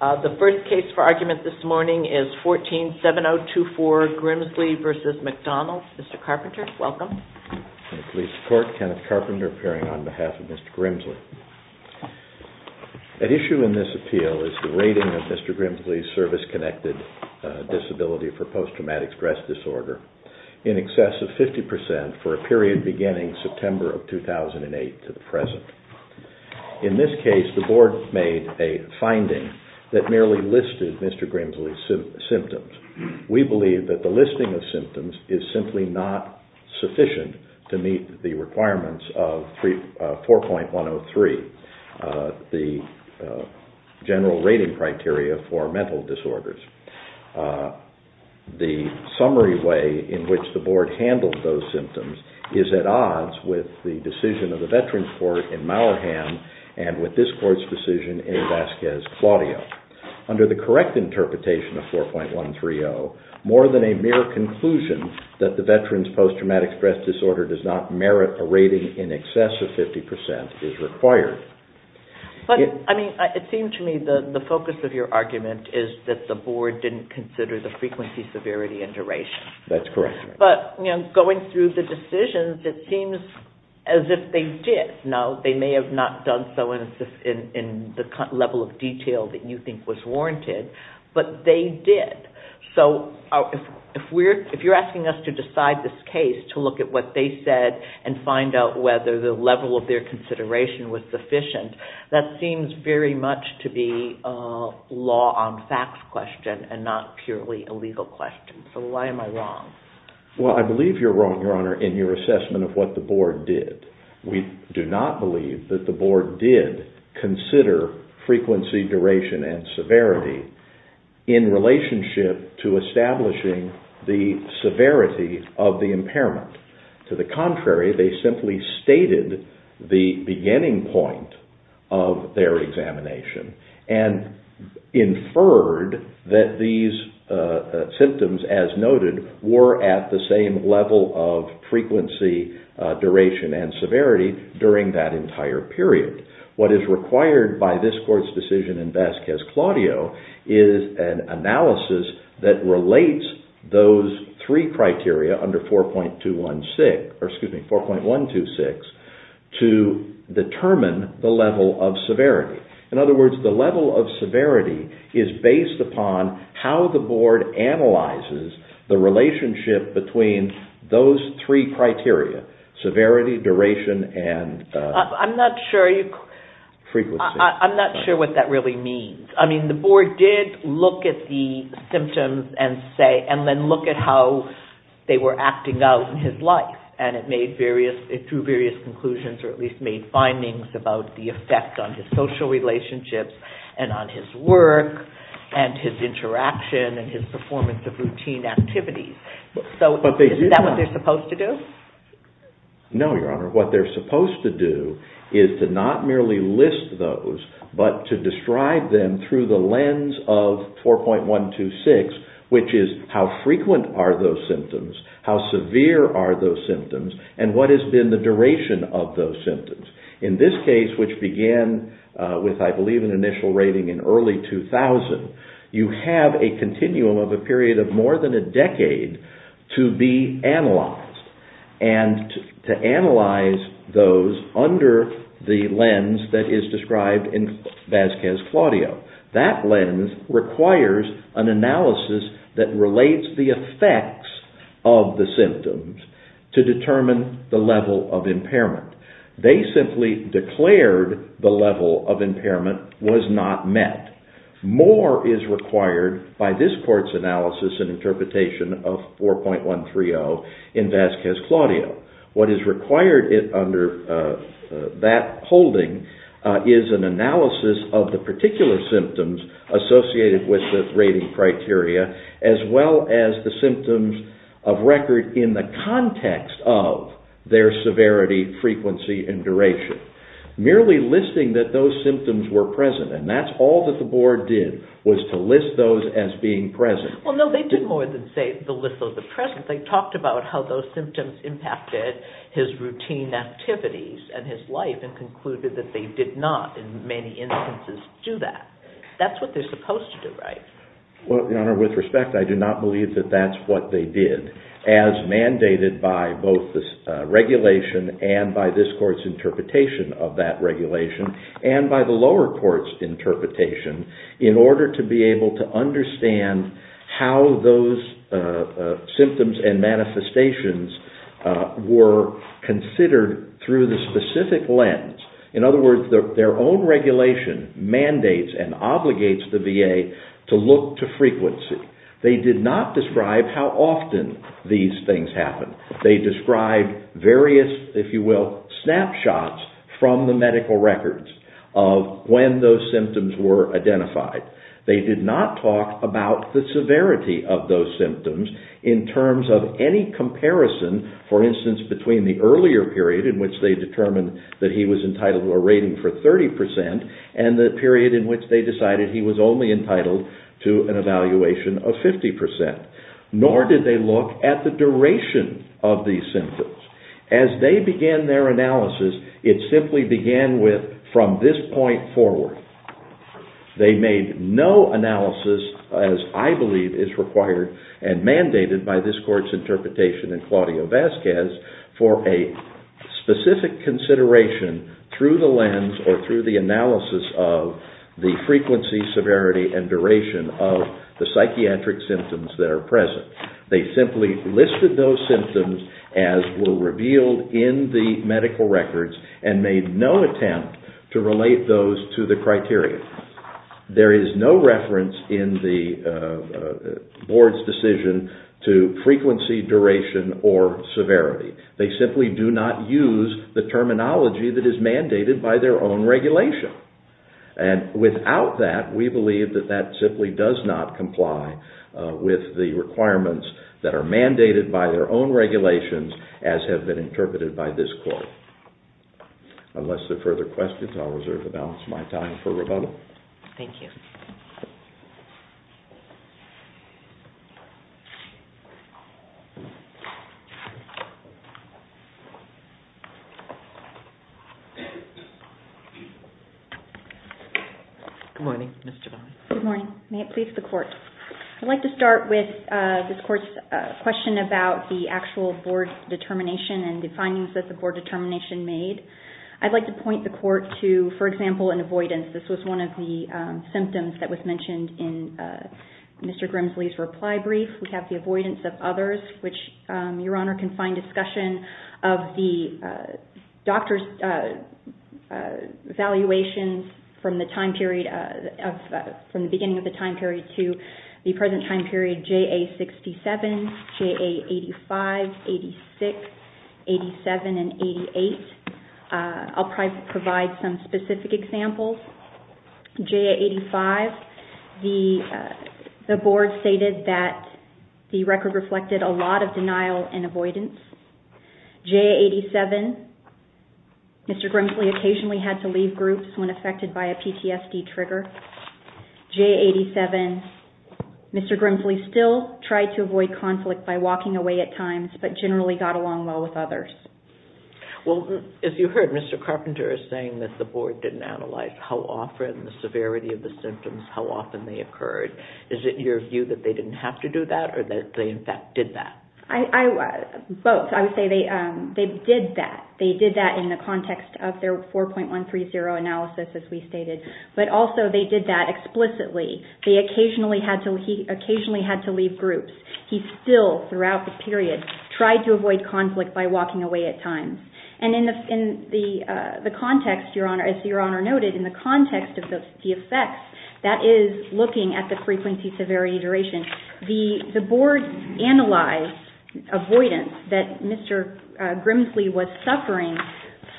The first case for argument this morning is 14-7024 Grimsley v. McDonald. Mr. Carpenter, welcome. Kenneth Carpenter, appearing on behalf of Mr. Grimsley. At issue in this appeal is the rating of Mr. Grimsley's service-connected disability for post-traumatic stress disorder in excess of 50% for a period beginning September 2008 to the present. In this case, the board made a finding that merely listed Mr. Grimsley's symptoms. We believe that the listing of symptoms is simply not sufficient to meet the requirements of 4.103, the general rating criteria for mental disorders. The summary way in which the board handled those symptoms is at odds with the decision of the Veterans Court in Mallahan and with this court's decision in Vasquez-Claudio. Under the correct interpretation of 4.130, more than a mere conclusion that the veteran's post-traumatic stress disorder does not merit a rating in excess of 50% is required. But, I mean, it seems to me the focus of your argument is that the board didn't consider the frequency, severity, and duration. That's correct. But, you know, going through the decisions, it seems as if they did. Now, they may have not done so in the level of detail that you think was warranted, but they did. So if you're asking us to decide this case to look at what they said and find out whether the level of their consideration was sufficient, that seems very much to be a law-on-facts question and not purely a legal question. So why am I wrong? Well, I believe you're wrong, Your Honor, in your assessment of what the board did. We do not believe that the board did consider frequency, duration, and severity in relationship to establishing the severity of the impairment. To the contrary, they simply stated the beginning point of their examination and inferred that these symptoms, as noted, were at the same level of frequency, duration, and severity during that entire period. What is required by this court's decision in Vasquez-Claudio is an analysis that relates those three criteria under 4.126 to determine the level of severity. In other words, the level of severity is based upon how the board analyzes the relationship between those three criteria, severity, duration, and frequency. I'm not sure what that really means. I mean, the board did look at the symptoms and say, and then look at how they were acting out in his life, and it made various, it drew various conclusions or at least made findings about the effect on his social relationships and on his work and his interaction and his performance of routine activities. So is that what they're supposed to do? No, Your Honor. What they're supposed to do is to not merely list those but to describe them through the lens of 4.126, which is how frequent are those symptoms, how severe are those symptoms, and what has been the duration of those symptoms. In this case, which began with, I believe, an initial rating in early 2000, you have a continuum of a period of more than a decade to be analyzed and to analyze those under the lens that is described in Vasquez-Claudio. That lens requires an analysis that relates the effects of the symptoms to determine the level of impairment. They simply declared the level of impairment was not met. More is required by this Court's analysis and interpretation of 4.130 in Vasquez-Claudio. What is required under that holding is an analysis of the particular symptoms associated with the rating criteria as well as the symptoms of record in the context of their severity, frequency, and duration. Merely listing that those symptoms were present, and that's all that the Board did was to list those as being present. Well, no, they did more than say the list of the present. They talked about how those symptoms impacted his routine activities and his life and concluded that they did not, in many instances, do that. That's what they're supposed to do, right? Well, Your Honor, with respect, I do not believe that that's what they did, as mandated by both the regulation and by this Court's interpretation of that regulation and by the lower Court's interpretation in order to be able to understand how those symptoms and manifestations were considered through the specific lens. In other words, their own regulation mandates and obligates the VA to look to frequency. They did not describe how often these things happened. They described various, if you will, snapshots from the medical records of when those symptoms were identified. They did not talk about the severity of those symptoms in terms of any comparison, for instance, between the earlier period in which they determined that he was entitled to a rating for 30% and the period in which they decided he was only entitled to an evaluation of 50%. Nor did they look at the duration of these symptoms. As they began their analysis, it simply began with, from this point forward. They made no analysis, as I believe is required and mandated by this Court's interpretation in Claudio Vasquez, for a specific consideration through the lens or through the analysis of the frequency, severity, and duration of the psychiatric symptoms that are present. They simply listed those symptoms as were revealed in the medical records and made no attempt to relate those to the criteria. There is no reference in the Board's decision to frequency, duration, or severity. They simply do not use the terminology that is mandated by their own regulation. Without that, we believe that that simply does not comply with the requirements that are mandated by their own regulations as have been interpreted by this Court. Unless there are further questions, I will reserve the balance of my time for rebuttal. Thank you. Good morning, Ms. Giovanni. I would like to talk about the actual Board determination and the findings that the Board determination made. I would like to point the Court to, for example, an avoidance. This was one of the symptoms that was mentioned in Mr. Grimsley's reply brief. We have the avoidance of others, which Your Honor can find discussion of the doctor's evaluations from the beginning of the time period to the present time period, JA-67, JA-85, 86, 87, and 88. I will provide some specific examples. JA-85, the Board stated that the record reflected a lot of denial and avoidance. JA-87, Mr. Grimsley occasionally had to leave groups when affected by a PTSD trigger. JA-87, Mr. Grimsley still tried to avoid conflict by walking away at times, but generally got along well with others. Well, if you heard Mr. Carpenter saying that the Board didn't analyze how often, the severity of the symptoms, how often they occurred, is it your view that they didn't have to do that or that they, in fact, did that? Both. I would say they did that. They did that in the context of their 4.130 analysis, as we stated. But also, they did that explicitly. They occasionally had to leave groups. He still, throughout the period, tried to avoid conflict by walking away at times. And in the context, as Your Honor noted, in the context of the effects, that is looking at the frequency, severity, duration. The Board analyzed avoidance that Mr. Grimsley was suffering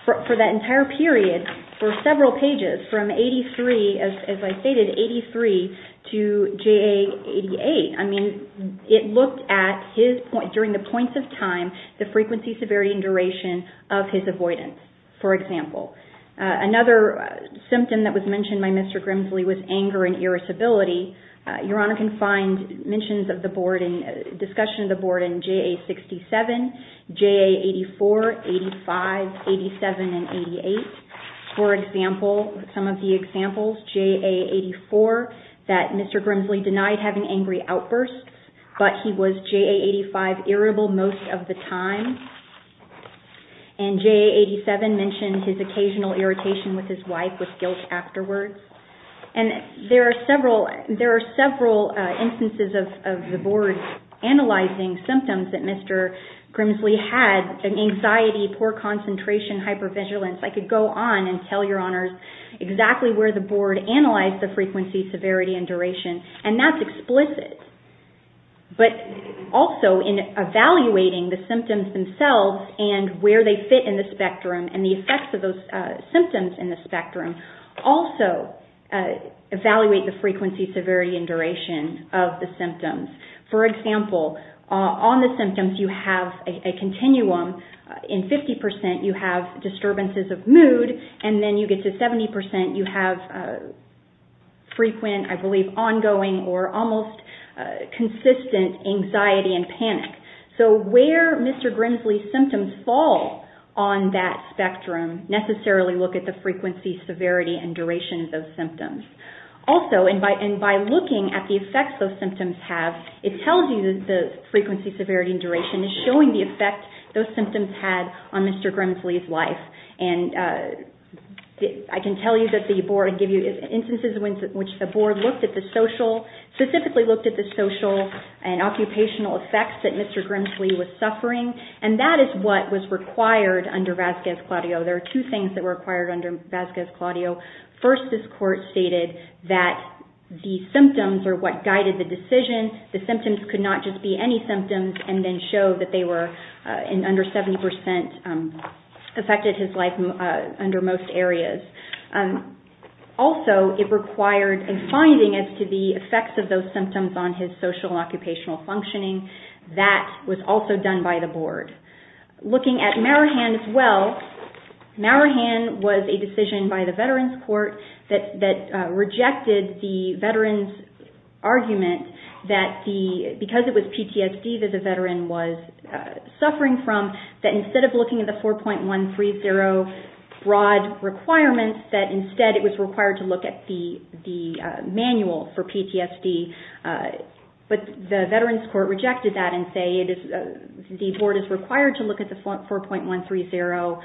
for that entire period, for several pages, from 83, as I stated, 83 to JA-88. I mean, it looked at his, during the points of time, the frequency, severity, and duration of his avoidance, for example. Another symptom that was mentioned by Mr. Grimsley was anger and irascibility. Your Honor can find mentions of the Board and discussion of the Board in JA-67, JA-84, 85, 87, and 88. For example, some of the examples, JA-84, that Mr. Grimsley denied having angry outbursts, but he was JA-85 irritable most of the time. And JA-87 mentioned his occasional irritation with his wife with guilt afterwards. And there are several instances of the Board analyzing symptoms that Mr. Grimsley had, anxiety, poor concentration, hypervigilance. I could go on and tell Your Honors exactly where the Board analyzed the frequency, severity, and duration. And that's explicit. But also, in evaluating the symptoms themselves and where they fit in the spectrum and the effects of those symptoms in the spectrum, also evaluate the frequency, severity, and duration of the symptoms. For example, on the symptoms, you have a continuum. In 50 percent, you have disturbances of mood. And then you get to 70 percent, you have frequent, I believe, ongoing or almost consistent anxiety and panic. So where Mr. Grimsley's symptoms fall on that spectrum, necessarily look at the frequency, severity, and duration of those symptoms. Also, and by looking at the effects those symptoms have, it tells you that the frequency, severity, and duration is showing the effect those symptoms had on Mr. Grimsley's life. And I can tell you that the Board will give you instances in which the Board looked at the social, and occupational effects that Mr. Grimsley was suffering. And that is what was required under Vasquez-Claudio. There are two things that were required under Vasquez-Claudio. First, this Court stated that the symptoms are what guided the decision. The symptoms could not just be any symptoms and then show that they were under 70 percent affected his life under most areas. Also, it required a finding as to the effects of those symptoms on his social and occupational functioning. That was also done by the Board. Looking at Marahan as well, Marahan was a decision by the Veterans Court that rejected the veterans' argument that because it was PTSD that the veteran was suffering from, that instead of looking at the 4.130 broad requirements, that instead it was required to look at the manual for PTSD. But the Veterans Court rejected that and said the Board is required to look at the 4.130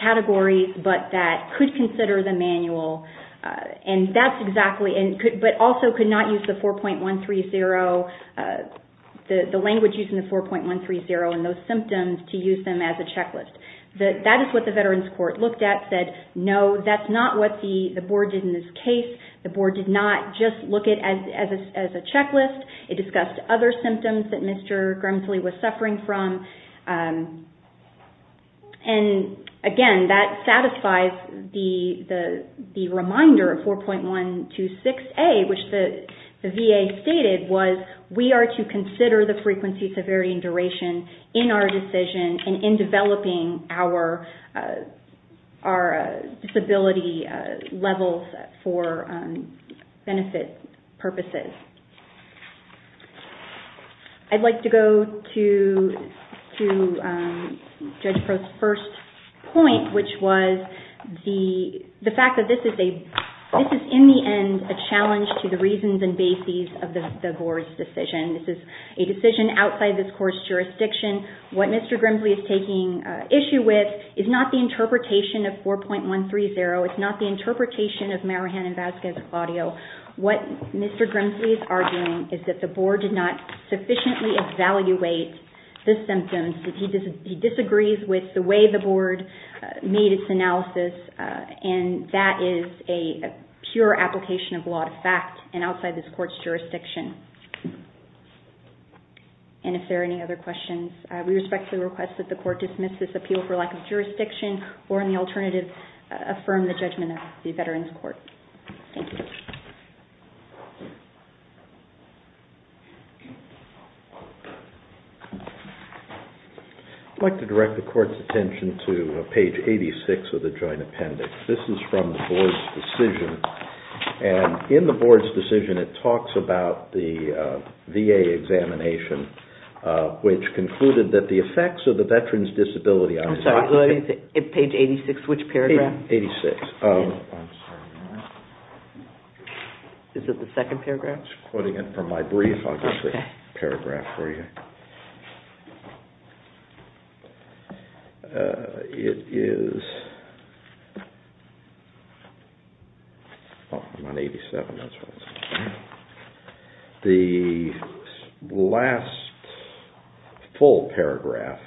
categories, but that could consider the manual. But also could not use the language used in the 4.130 and those symptoms to use them as a checklist. That is what the Veterans Court looked at and said, no, that is not what the Board did in this case. The Board did not just look at it as a checklist. It discussed other symptoms that Mr. Grimsley was suffering from. Again, that satisfies the reminder of 4.126A, which the VA stated was we are to consider the frequency, severity, and duration in our decision and in developing our disability levels for benefit purposes. I would like to go to Judge Crow's first point, which was the fact that this is in the end a challenge to the reasons and bases of the Board's decision. This is a decision outside this Court's jurisdiction. What Mr. Grimsley is taking issue with is not the interpretation of 4.130. It is not the interpretation of Marahan and Vasquez-Claudio. What Mr. Grimsley is arguing is that the Board did not sufficiently evaluate the symptoms. He disagrees with the way the Board made its analysis, and that is a pure application of law to fact and outside this Court's jurisdiction. If there are any other questions, we respectfully request that the Court dismiss this appeal for lack of jurisdiction or, in the alternative, affirm the judgment of the Veterans Court. Thank you. I would like to direct the Court's attention to page 86 of the Joint Appendix. This is from the Board's decision. In the Board's decision, it talks about the VA examination, which concluded that the effects of the Veterans' Disability... I'm sorry, page 86, which paragraph? Page 86. Is it the second paragraph? I'm quoting it from my brief. I'll get the paragraph for you. It is... I'm on 87. The last full paragraph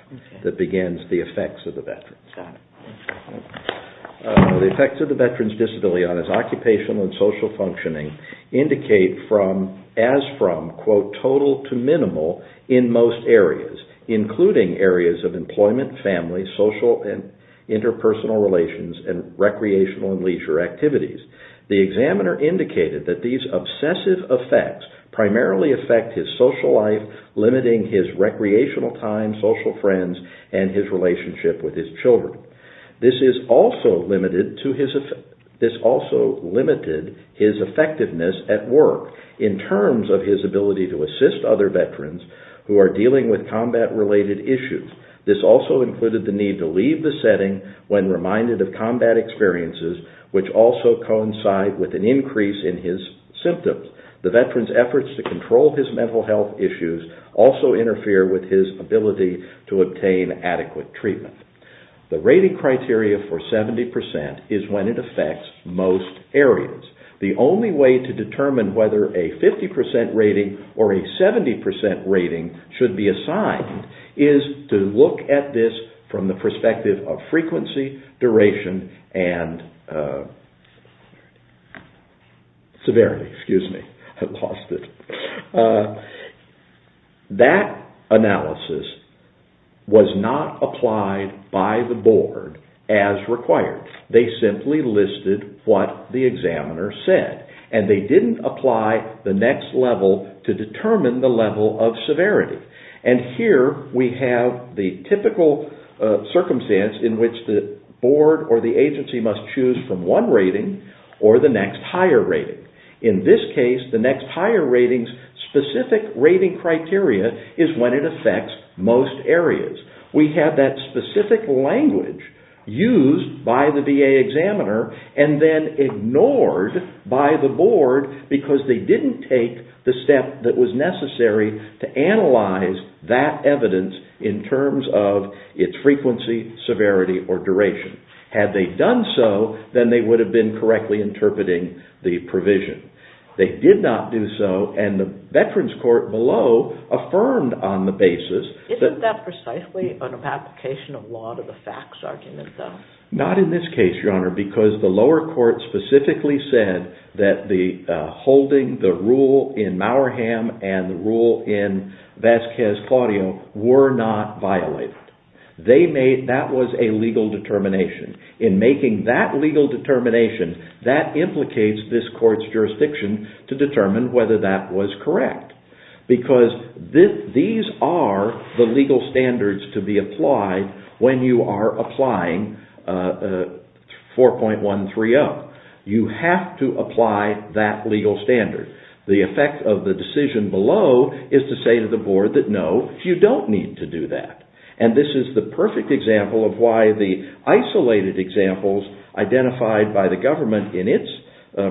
that begins the effects of the Veterans. Got it. The effects of the Veterans' Disability on his occupational and social functioning indicate as from, quote, total to minimal in most areas, including areas of employment, family, social and interpersonal relations, and recreational and leisure activities. The examiner indicated that these obsessive effects primarily affect his social life, limiting his recreational time, social friends, and his relationship with his children. This also limited his effectiveness at work in terms of his ability to assist other Veterans who are dealing with combat-related issues. This also included the need to leave the setting when reminded of combat experiences, which also coincide with an increase in his symptoms. The Veterans' efforts to control his mental health issues also interfere with his ability to obtain adequate treatment. The rating criteria for 70% is when it affects most areas. The only way to determine whether a 50% rating or a 70% rating should be assigned is to look at this from the perspective of frequency, duration, and... severity, excuse me. I lost it. That analysis was not applied by the board as required. They simply listed what the examiner said, and they didn't apply the next level to determine the level of severity. And here we have the typical circumstance in which the board or the agency must choose from one rating or the next higher rating. In this case, the next higher rating's specific rating criteria is when it affects most areas. We have that specific language used by the VA examiner and then ignored by the board because they didn't take the step that was necessary to analyze that evidence in terms of its frequency, severity, or duration. Had they done so, then they would have been correctly interpreting the provision. They did not do so, and the Veterans Court below affirmed on the basis... Isn't that precisely an application of law to the facts argument, though? Not in this case, Your Honor, because the lower court specifically said that holding the rule in Mauerham and the rule in Vasquez Claudio were not violated. That was a legal determination. In making that legal determination, that implicates this court's jurisdiction to determine whether that was correct. Because these are the legal standards to be applied when you are applying 4.130. You have to apply that legal standard. The effect of the decision below is to say to the board that no, you don't need to do that. This is the perfect example of why the isolated examples identified by the government in its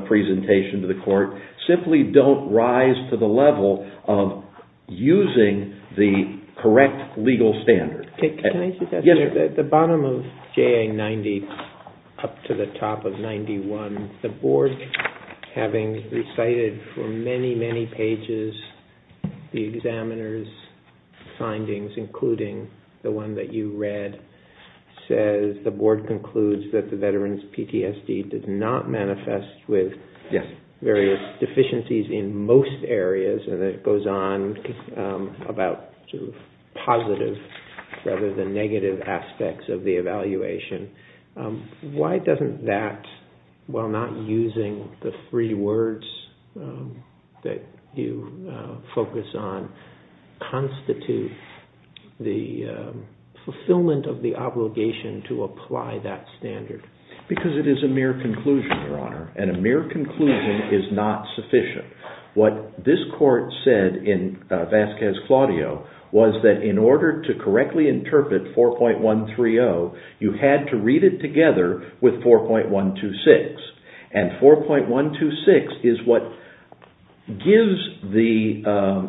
presentation to the court simply don't rise to the level of using the correct legal standard. Can I say something? Yes, sir. At the bottom of JA 90 up to the top of 91, the board, having recited for many, many pages the examiner's findings, including the one that you read, says the board concludes that the veteran's PTSD did not manifest with various deficiencies in most areas, and it goes on about positive rather than negative aspects of the evaluation. Why doesn't that, while not using the three words that you focus on, constitute the fulfillment of the obligation to apply that standard? Because it is a mere conclusion, Your Honor, and a mere conclusion is not sufficient. What this court said in Vasquez-Claudio was that in order to correctly interpret 4.130, you had to read it together with 4.126, and 4.126 is what gives the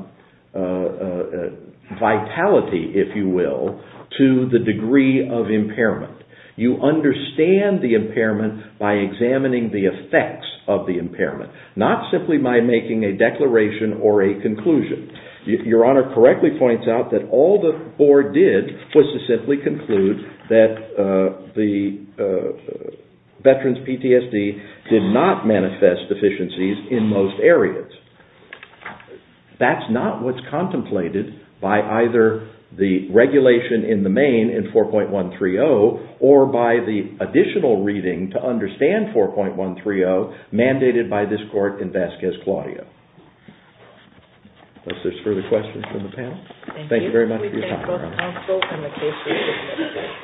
vitality, if you will, to the degree of impairment. You understand the impairment by examining the effects of the impairment, not simply by making a declaration or a conclusion. Your Honor correctly points out that all the board did was to simply conclude that the veteran's PTSD did not manifest deficiencies in most areas. That's not what's contemplated by either the regulation in the main in 4.130 or by the additional reading to understand 4.130 mandated by this court in Vasquez-Claudio. Unless there's further questions from the panel. Thank you very much for your time, Your Honor.